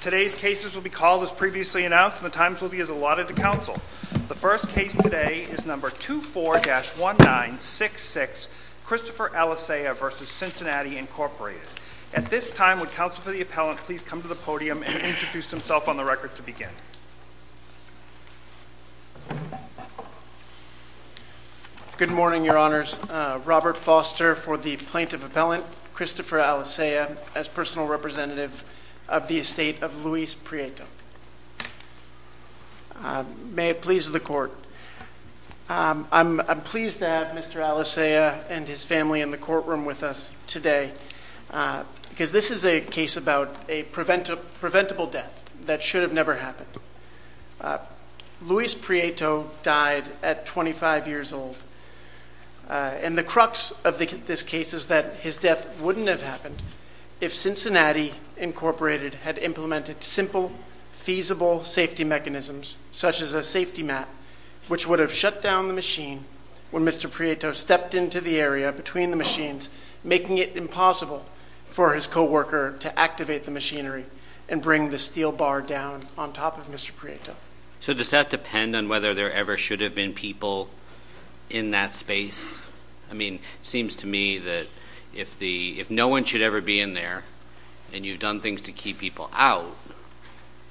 Today's cases will be called as previously announced and the times will be as allotted to counsel. The first case today is number 24-1966, Christopher Alicea v. Cincinnati Incorporated. At this time, would counsel for the appellant please come to the podium and introduce himself on the record to begin. Good morning, your honors. Robert Foster for the plaintiff appellant, Christopher Alicea, as personal representative of the estate of Luis Prieto. May it please the court, I'm pleased to have Mr. Alicea and his family in the courtroom with us today because this is a case about a preventable death that should have never happened. Luis Prieto died at 25 years old and the crux of this case is that his death wouldn't have happened if Cincinnati Incorporated had implemented simple, feasible safety mechanisms, such as a safety mat, which would have shut down the machine when Mr. Prieto stepped into the area between the machines, making it impossible for his co-worker to activate the machinery and bring the steel bar down on top of Mr. Prieto. So does that depend on whether there ever should have been people in that space? I mean, it seems to me that if no one should ever be in there and you've done things to keep people out,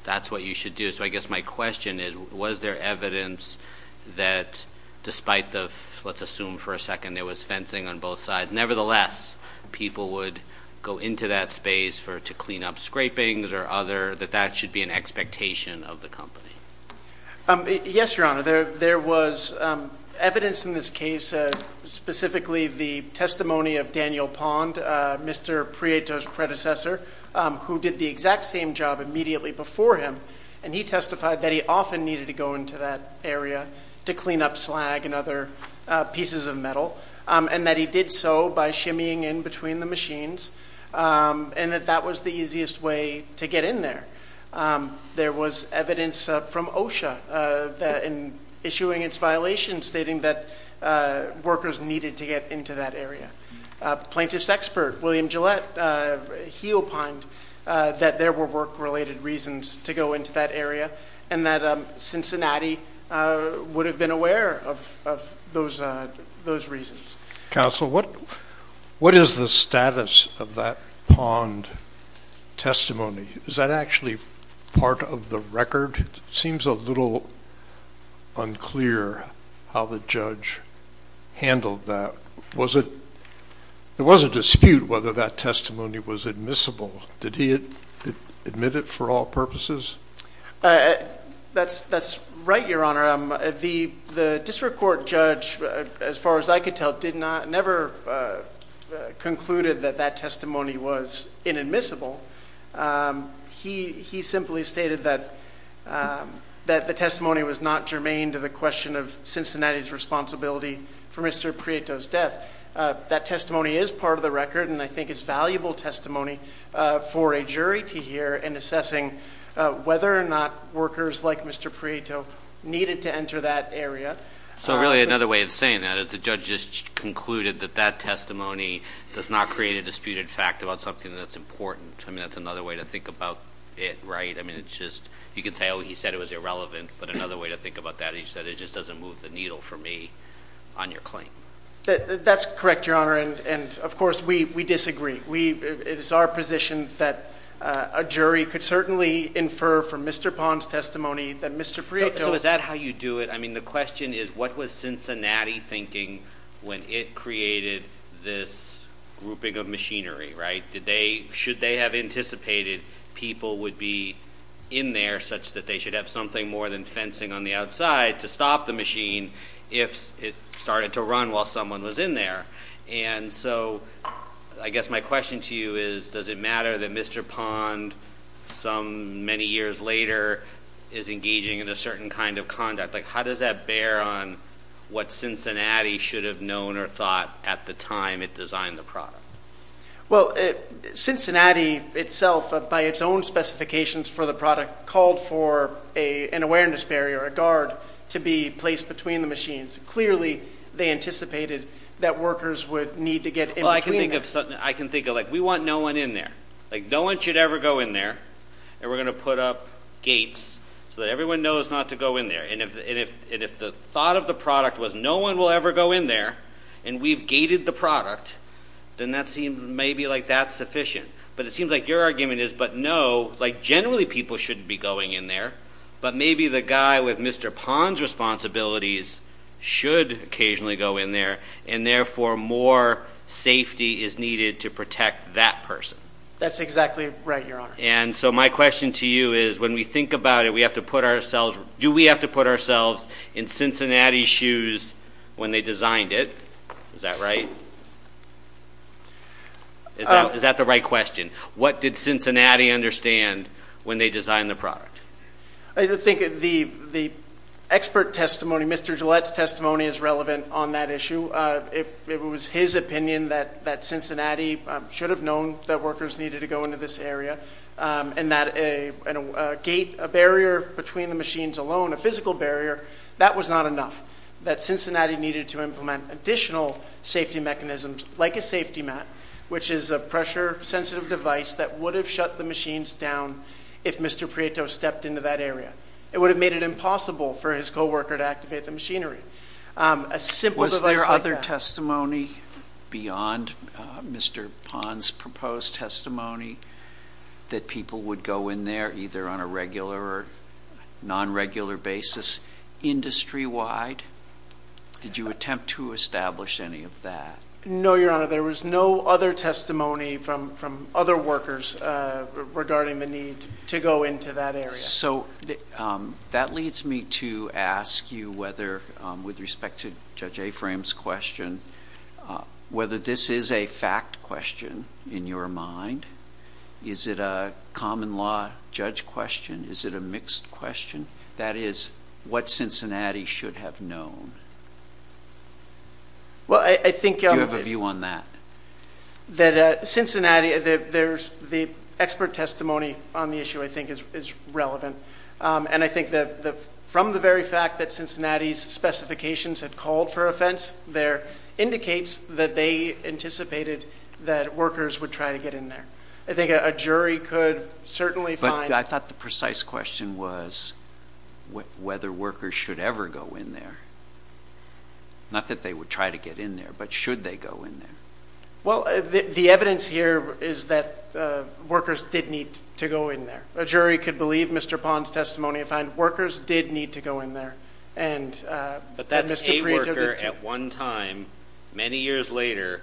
that's what you should do. So I guess my question is, was there evidence that despite the, let's assume for a second there was fencing on both sides, nevertheless people would go into that space to clean up scrapings or other, that that should be an expectation of the company? Yes, your honor. There was evidence in this case, specifically the testimony of Daniel Pond, Mr. Prieto's predecessor, who did the exact same job immediately before him, and he testified that he often needed to go into that area to clean up slag and other pieces of metal, and that he did so by shimmying in between the machines, and that that was the easiest way to get in there. There was evidence from OSHA that in issuing its violation, stating that workers needed to get into that area. Plaintiff's expert, William Gillette, he opined that there were work-related reasons to go into that area, and that Cincinnati would have been aware of those reasons. Counsel, what is the status of that Pond testimony? Is that actually part of the record? It seems a little unclear how the judge handled that. Was it, there was a dispute whether that testimony was admissible. Did he admit it for all purposes? That's right, your honor. The district court judge, as far as I could tell, did not, never concluded that that testimony was inadmissible. He simply stated that the testimony was not germane to the question of Cincinnati's responsibility for Mr. Prieto's death. That testimony is part of the record, and I think it's valuable testimony for a jury to hear in assessing whether or not workers like Mr. Prieto needed to enter that area. So really another way of saying that is the judge just concluded that that testimony does not create a disputed fact about something that's important. I mean, that's another way to think about it, right? I mean, it's just, you could say, oh, he said it was irrelevant, but another way to think about that is that it just doesn't move the needle for me on your claim. That's correct, your honor, and of course, we disagree. It is our position that a jury could certainly infer from Mr. Pond's testimony that Mr. Prieto So is that how you do it? I mean, the question is, what was Cincinnati thinking when it created this grouping of machinery, right? Should they have anticipated people would be in there such that they should have something more than fencing on the outside to stop the machine if it started to run while someone was in there? And so I guess my question to you is, does it matter that Mr. Pond, some many years later, is engaging in a certain kind of conduct? Like, how does that bear on what Cincinnati should have known or thought at the time it designed the product? Well, Cincinnati itself, by its own specifications for the product, called for an awareness barrier, a guard, to be placed between the machines. Clearly, they anticipated that workers would need to get in between them. I can think of like, we want no one in there. Like, no one should ever go in there, and we're going to put up gates so that everyone knows not to go in there. And if the thought of the product was, no one will ever go in there, and we've gated the product, then that seems maybe like that's sufficient. But it seems like your argument is, but no, like, generally people shouldn't be going in there. But maybe the guy with Mr. Pond's responsibilities should occasionally go in there, and therefore more safety is needed to protect that person. That's exactly right, Your Honor. And so my question to you is, when we think about it, we have to put ourselves, do we have to put ourselves in Cincinnati's shoes when they designed it? Is that right? Is that the right question? What did Cincinnati understand when they designed the product? I think the expert testimony, Mr. Gillette's testimony is relevant on that issue. It was his opinion that Cincinnati should have known that workers needed to go into this area, and that a gate, a barrier between the machines alone, a physical barrier, that was not enough. That Cincinnati needed to implement additional safety mechanisms, like a safety mat, which is a pressure-sensitive device that would have shut the machines down if Mr. Prieto stepped into that area. It would have made it impossible for his co-worker to activate the machinery. A simple device like that. Was there any testimony beyond Mr. Pond's proposed testimony that people would go in there, either on a regular or non-regular basis, industry-wide? Did you attempt to establish any of that? No, Your Honor. There was no other testimony from other workers regarding the need to go into that area. Yes, so that leads me to ask you whether, with respect to Judge Afram's question, whether this is a fact question in your mind? Is it a common law judge question? Is it a mixed question? That is, what Cincinnati should have known? Do you have a view on that? The expert testimony on the issue, I think, is relevant, and I think that from the very fact that Cincinnati's specifications had called for a fence there, indicates that they anticipated that workers would try to get in there. I think a jury could certainly find— I thought the precise question was whether workers should ever go in there. Not that they would try to get in there, but should they go in there? Well, the evidence here is that workers did need to go in there. A jury could believe Mr. Pond's testimony and find workers did need to go in there, and Mr. Prieto did, too. But that's a worker at one time, many years later,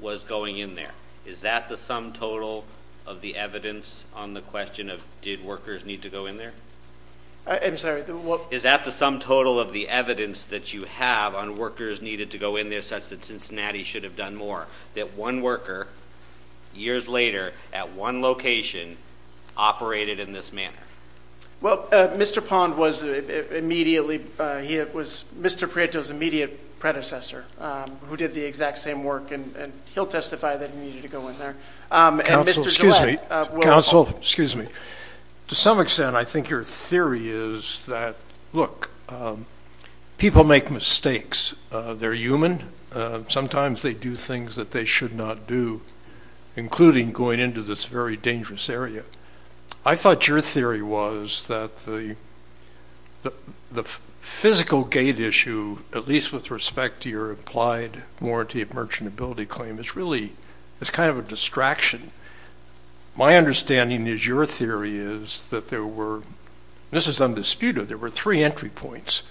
was going in there. Is that the sum total of the evidence on the question of did workers need to go in there? I'm sorry, what— Is that the sum total of the evidence that you have on workers needed to go in there such that Cincinnati should have done more? That one worker, years later, at one location, operated in this manner? Well, Mr. Pond was immediately—he was Mr. Prieto's immediate predecessor, who did the exact same work, and he'll testify that he needed to go in there. And Mr. Gillette— Counsel, excuse me. Counsel, excuse me. To some extent, I think your theory is that, look, people make mistakes. They're human. Sometimes they do things that they should not do, including going into this very dangerous area. I thought your theory was that the physical gate issue, at least with respect to your applied warranty of merchantability claim, is really—it's kind of a distraction. My understanding is your theory is that there were—this is undisputed—there were three entry points.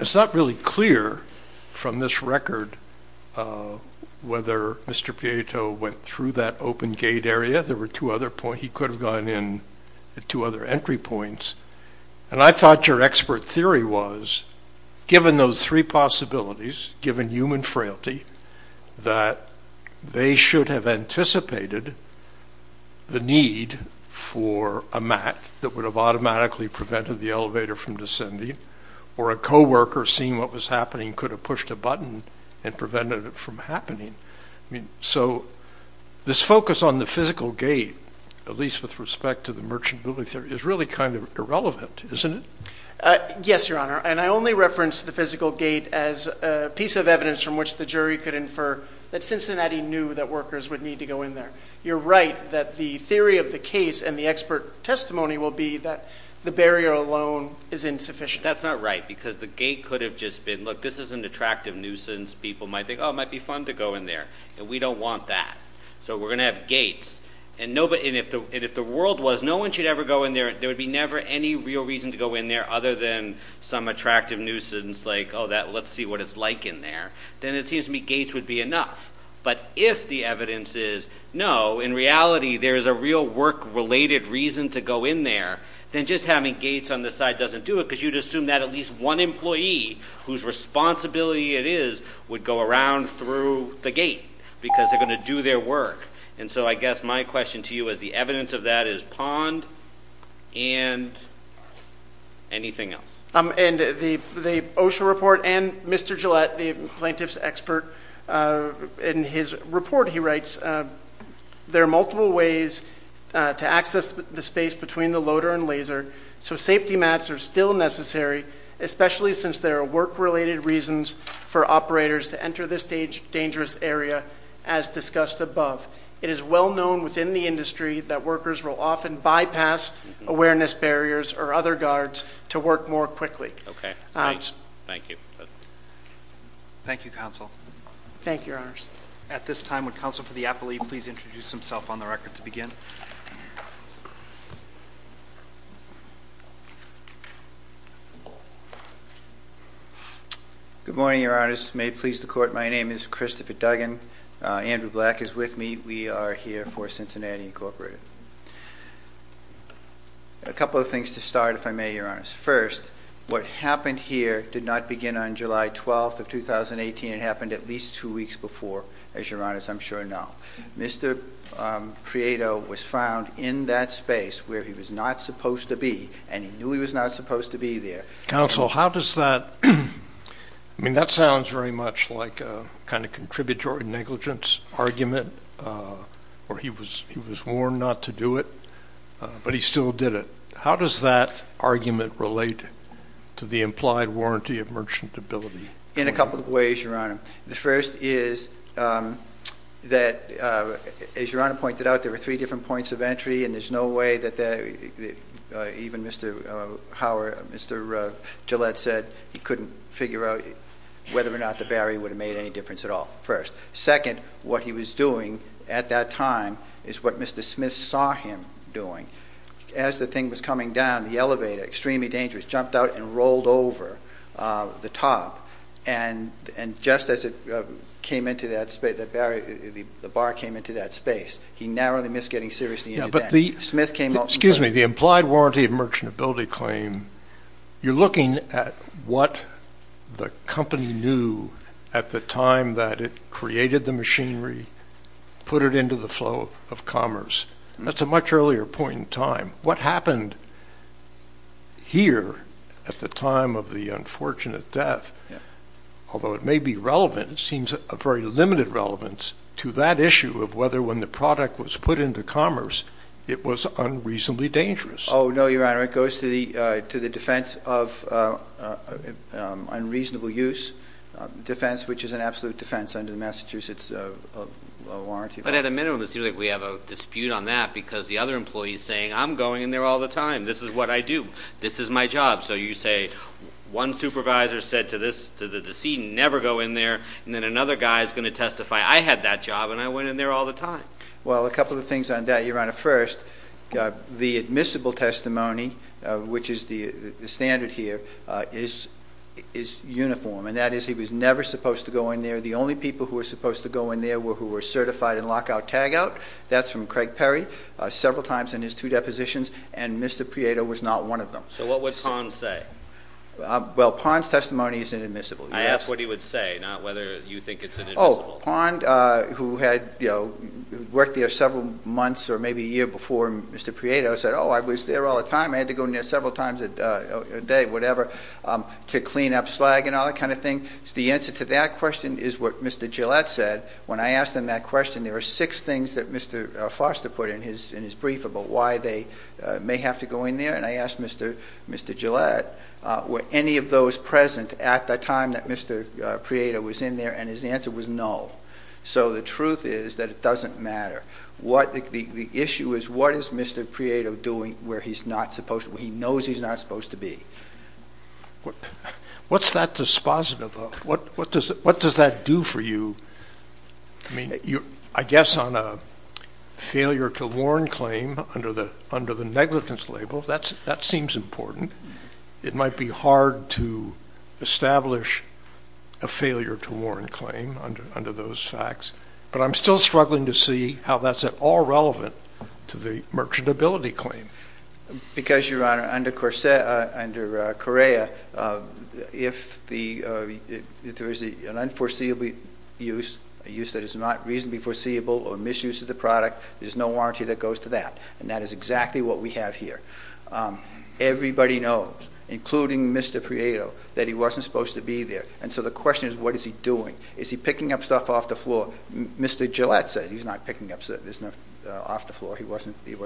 It's not really clear, from this record, whether Mr. Prieto went through that open gate area. There were two other points. He could have gone in at two other entry points. And I thought your expert theory was, given those three possibilities, given human frailty, that they should have anticipated the need for a mat that would have automatically prevented the elevator from descending, or a co-worker, seeing what was happening, could have pushed a button and prevented it from happening. So this focus on the physical gate, at least with respect to the merchantability theory, is really kind of irrelevant, isn't it? Yes, Your Honor. And I only reference the physical gate as a piece of evidence from which the jury could infer that Cincinnati knew that workers would need to go in there. You're right that the theory of the case and the expert testimony will be that the barrier alone is insufficient. That's not right, because the gate could have just been, look, this is an attractive nuisance. People might think, oh, it might be fun to go in there. And we don't want that. So we're going to have gates. And if the world was, no one should ever go in there. There would be never any real reason to go in there other than some attractive nuisance like, oh, let's see what it's like in there. Then it seems to me gates would be enough. But if the evidence is, no, in reality, there is a real work-related reason to go in there, then just having gates on the side doesn't do it, because you'd assume that at least one employee whose responsibility it is would go around through the gate, because they're going to do their work. And so I guess my question to you is, the evidence of that is pond and anything else? And the OSHA report and Mr. Gillette, the plaintiff's expert, in his report he writes, there are multiple ways to access the space between the loader and laser. So safety mats are still necessary, especially since there are work-related reasons for operators to enter this dangerous area, as discussed above. It is well known within the industry that workers will often bypass awareness barriers or other guards to work more quickly. Okay. Great. Thank you. Thank you, counsel. Thank you, your honors. At this time, would counsel for the appellee please introduce himself on the record to begin? Good morning, your honors. May it please the court, my name is Christopher Duggan. Andrew Black is with me. We are here for Cincinnati Incorporated. A couple of things to start, if I may, your honors. First, what happened here did not begin on July 12th of 2018. It happened at least two weeks before, as your honors I'm sure know. Mr. Prieto was found in that space where he was not supposed to be, and he knew he was not supposed to be there. Counsel, how does that, I mean that sounds very much like a kind of contributory negligence argument where he was warned not to do it, but he still did it. How does that argument relate to the implied warranty of merchantability? In a couple of ways, your honor. The first is that, as your honor pointed out, there were three different points of entry and there's no way that even Mr. Howard, Mr. Gillette said he couldn't figure out whether or not the barrier would have made any difference at all, first. Second, what he was doing at that time is what Mr. Smith saw him doing. As the thing was coming down, the elevator, extremely dangerous, jumped out and rolled over the top, and just as it came into that space, the bar came into that space, he narrowly missed getting seriously into that. Smith came up... Excuse me. The implied warranty of merchantability claim, you're looking at what the company knew at the time that it created the machinery, put it into the flow of commerce. That's a much earlier point in time. What happened here at the time of the unfortunate death, although it may be relevant, it seems a very limited relevance to that issue of whether when the product was put into commerce, it was unreasonably dangerous. Oh, no, your honor. It goes to the defense of unreasonable use, defense which is an absolute defense under the Massachusetts Warranty Law. But at a minimum, it seems like we have a dispute on that because the other employee is saying, I'm going in there all the time. This is what I do. This is my job. So you say, one supervisor said to the decedent, never go in there, and then another guy is going to testify, I had that job and I went in there all the time. Well, a couple of things on that, your honor. First, the admissible testimony, which is the standard here, is uniform, and that is he was never supposed to go in there. The only people who were supposed to go in there were who were certified in lockout-tagout. That's from Craig Perry, several times in his two depositions, and Mr. Prieto was not one of them. So what would Pond say? Well, Pond's testimony is inadmissible. I asked what he would say, not whether you think it's inadmissible. Oh, Pond, who had worked there several months or maybe a year before Mr. Prieto, said, oh, I was there all the time. I had to go in there several times a day, whatever, to clean up slag and all that kind of thing. The answer to that question is what Mr. Gillette said. When I asked him that question, there were six things that Mr. Foster put in his brief about why they may have to go in there, and I asked Mr. Gillette, were any of those present at the time that Mr. Prieto was in there, and his answer was no. So the truth is that it doesn't matter. The issue is what is Mr. Prieto doing where he's not supposed to be, where he knows he's not supposed to be? What's that dispositive of? What does that do for you? I mean, I guess on a failure-to-warn claim under the negligence label, that seems important. It might be hard to establish a failure-to-warn claim under those facts, but I'm still struggling to see how that's at all relevant to the merchantability claim. Because, Your Honor, under Correa, if there is an unforeseeable use, a use that is not reasonably foreseeable or misuse of the product, there's no warranty that goes to that, and that is exactly what we have here. Everybody knows, including Mr. Prieto, that he wasn't supposed to be there, and so the question is what is he doing? Is he picking up stuff off the floor? Mr. Gillette said he's not picking up stuff off the floor. He wasn't there.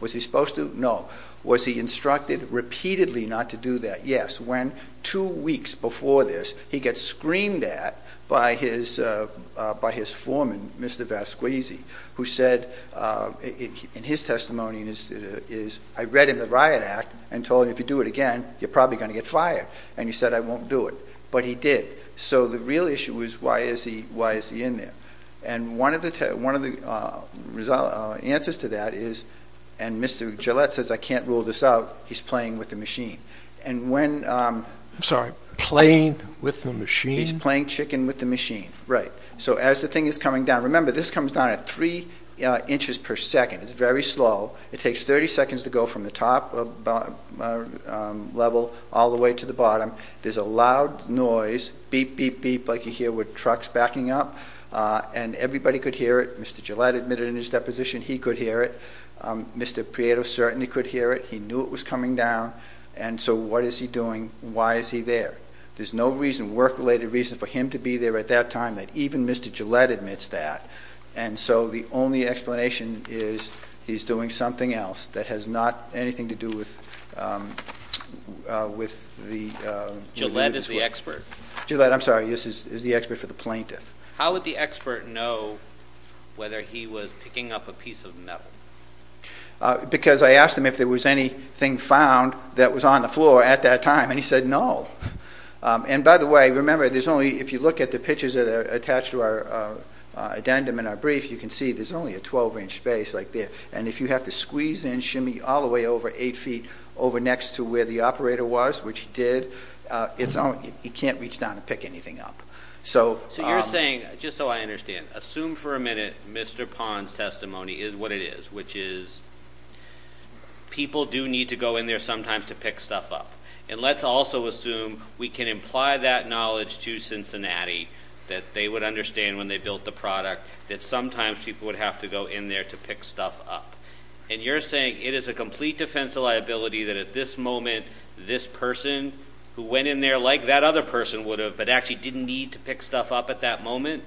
Was he supposed to? No. Was he instructed repeatedly not to do that? Yes. When two weeks before this, he gets screamed at by his foreman, Mr. Vasquezzi, who said in his testimony, I read him the Riot Act and told him if you do it again, you're probably going to get fired, and he said, I won't do it. But he did. So the real issue is why is he in there? And one of the answers to that is, and Mr. Gillette says I can't rule this out, he's playing with the machine. And when... I'm sorry, playing with the machine? He's playing chicken with the machine. Right. So as the thing is coming down, remember this comes down at three inches per second, it's very slow, it takes 30 seconds to go from the top level all the way to the bottom, there's a loud noise, beep, beep, beep, like you hear with trucks backing up, and everybody could hear it, Mr. Gillette admitted in his deposition he could hear it, Mr. Prieto certainly could hear it, he knew it was coming down, and so what is he doing? Why is he there? There's no reason, work-related reason for him to be there at that time that even Mr. Gillette admits that. And so the only explanation is he's doing something else that has not anything to do with the... Gillette is the expert. Gillette, I'm sorry, is the expert for the plaintiff. How would the expert know whether he was picking up a piece of metal? Because I asked him if there was anything found that was on the floor at that time, and he said no. And by the way, remember, there's only, if you look at the pictures that are attached to our addendum in our brief, you can see there's only a 12-inch space like there, and if you have to squeeze and shimmy all the way over eight feet over next to where the operator was, which he did, you can't reach down and pick anything up. So you're saying, just so I understand, assume for a minute Mr. Pond's testimony is what it is, which is people do need to go in there sometimes to pick stuff up. And let's also assume we can imply that knowledge to Cincinnati that they would understand when they built the product, that sometimes people would have to go in there to pick stuff up. And you're saying it is a complete defense of liability that at this moment, this person who went in there like that other person would have, but actually didn't need to pick stuff up at that moment,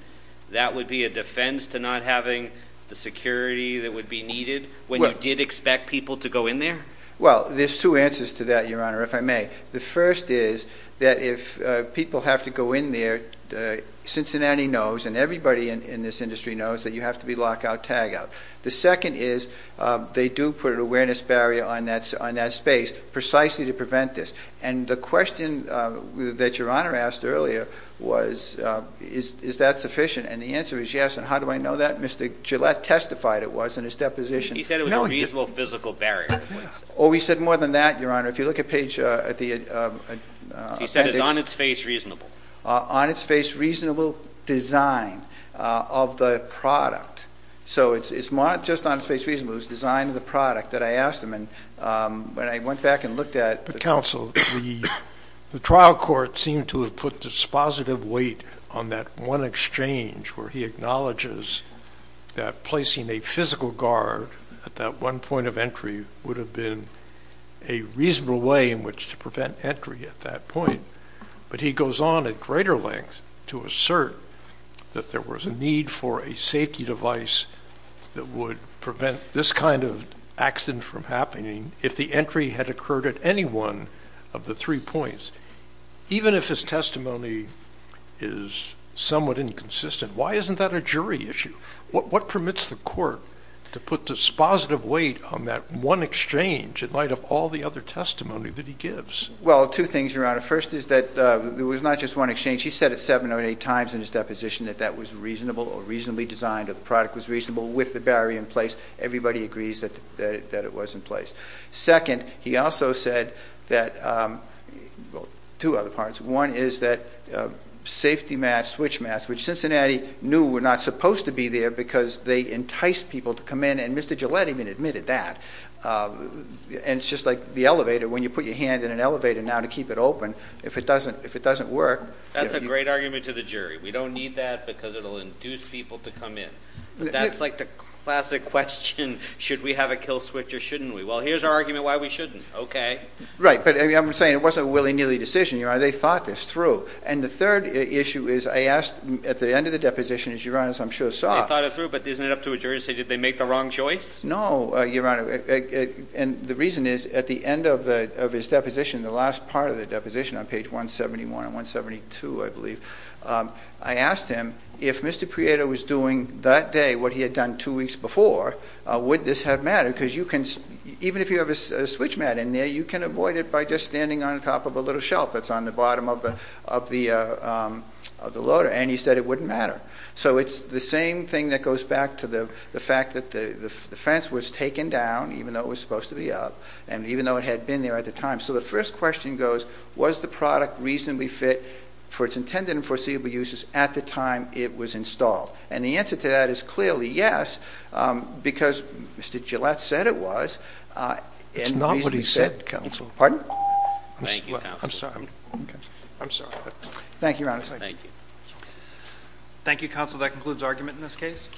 that would be a defense to not having the security that would be needed when you did expect people to go in there? Well, there's two answers to that, Your Honor, if I may. The first is that if people have to go in there, Cincinnati knows and everybody in this industry knows that you have to be lockout, tagout. The second is they do put an awareness barrier on that space precisely to prevent this. And the question that Your Honor asked earlier was, is that sufficient? And the answer is yes. And how do I know that? Mr. Gillette testified it was in his deposition. He said it was a reasonable physical barrier. Oh, he said more than that, Your Honor. If you look at page, at the, uh, he said it's on its face reasonable, uh, on its face, reasonable design, uh, of the product. So it's, it's not just on its face reasonable, it was design of the product that I asked him. And, um, when I went back and looked at the counsel, the, the trial court seemed to have put dispositive weight on that one exchange where he acknowledges that placing a physical guard at that one point of entry would have been a reasonable way in which to prevent entry at that point. But he goes on at greater length to assert that there was a need for a safety device that would prevent this kind of accident from happening if the entry had occurred at any one of the three points, even if his testimony is somewhat inconsistent. Why isn't that a jury issue? What permits the court to put dispositive weight on that one exchange in light of all the other testimony that he gives? Well, two things, Your Honor. First is that, uh, there was not just one exchange. He said it seven or eight times in his deposition that that was reasonable or reasonably designed or the product was reasonable with the barrier in place. Everybody agrees that, that it was in place. Second, he also said that, um, well, two other parts. One is that, uh, safety mats, switch mats, which Cincinnati knew were not supposed to be there because they entice people to come in. And Mr. Gillette even admitted that, uh, and it's just like the elevator. When you put your hand in an elevator now to keep it open, if it doesn't, if it doesn't work. That's a great argument to the jury. We don't need that because it'll induce people to come in. That's like the classic question. Should we have a kill switch or shouldn't we? Well, here's our argument why we shouldn't. Okay. Right. But I'm saying it wasn't a willy nilly decision. You are. They thought this through. And the third issue is I asked at the end of the deposition, as you run, as I'm sure saw. I thought it through, but isn't it up to a jury to say, did they make the wrong choice? No. Your Honor. And the reason is at the end of the, of his deposition, the last part of the deposition on page 171 and 172, I believe, um, I asked him if Mr. Prieto was doing that day, what he had done two weeks before, uh, would this have mattered? Because you can, even if you have a switch mat in there, you can avoid it by just standing on top of a little shelf that's on the bottom of the, of the, uh, um, of the loader. And he said it wouldn't matter. So it's the same thing that goes back to the fact that the, the fence was taken down, even though it was supposed to be up. And even though it had been there at the time. So the first question goes, was the product reasonably fit for its intended and foreseeable uses at the time it was installed? And the answer to that is clearly yes. Um, because Mr. Gillette said it was, uh, it's not what he said, counsel, pardon? Thank you. I'm sorry. I'm sorry. Thank you. Honestly. Thank you. Thank you. Counsel. That concludes argument in this case.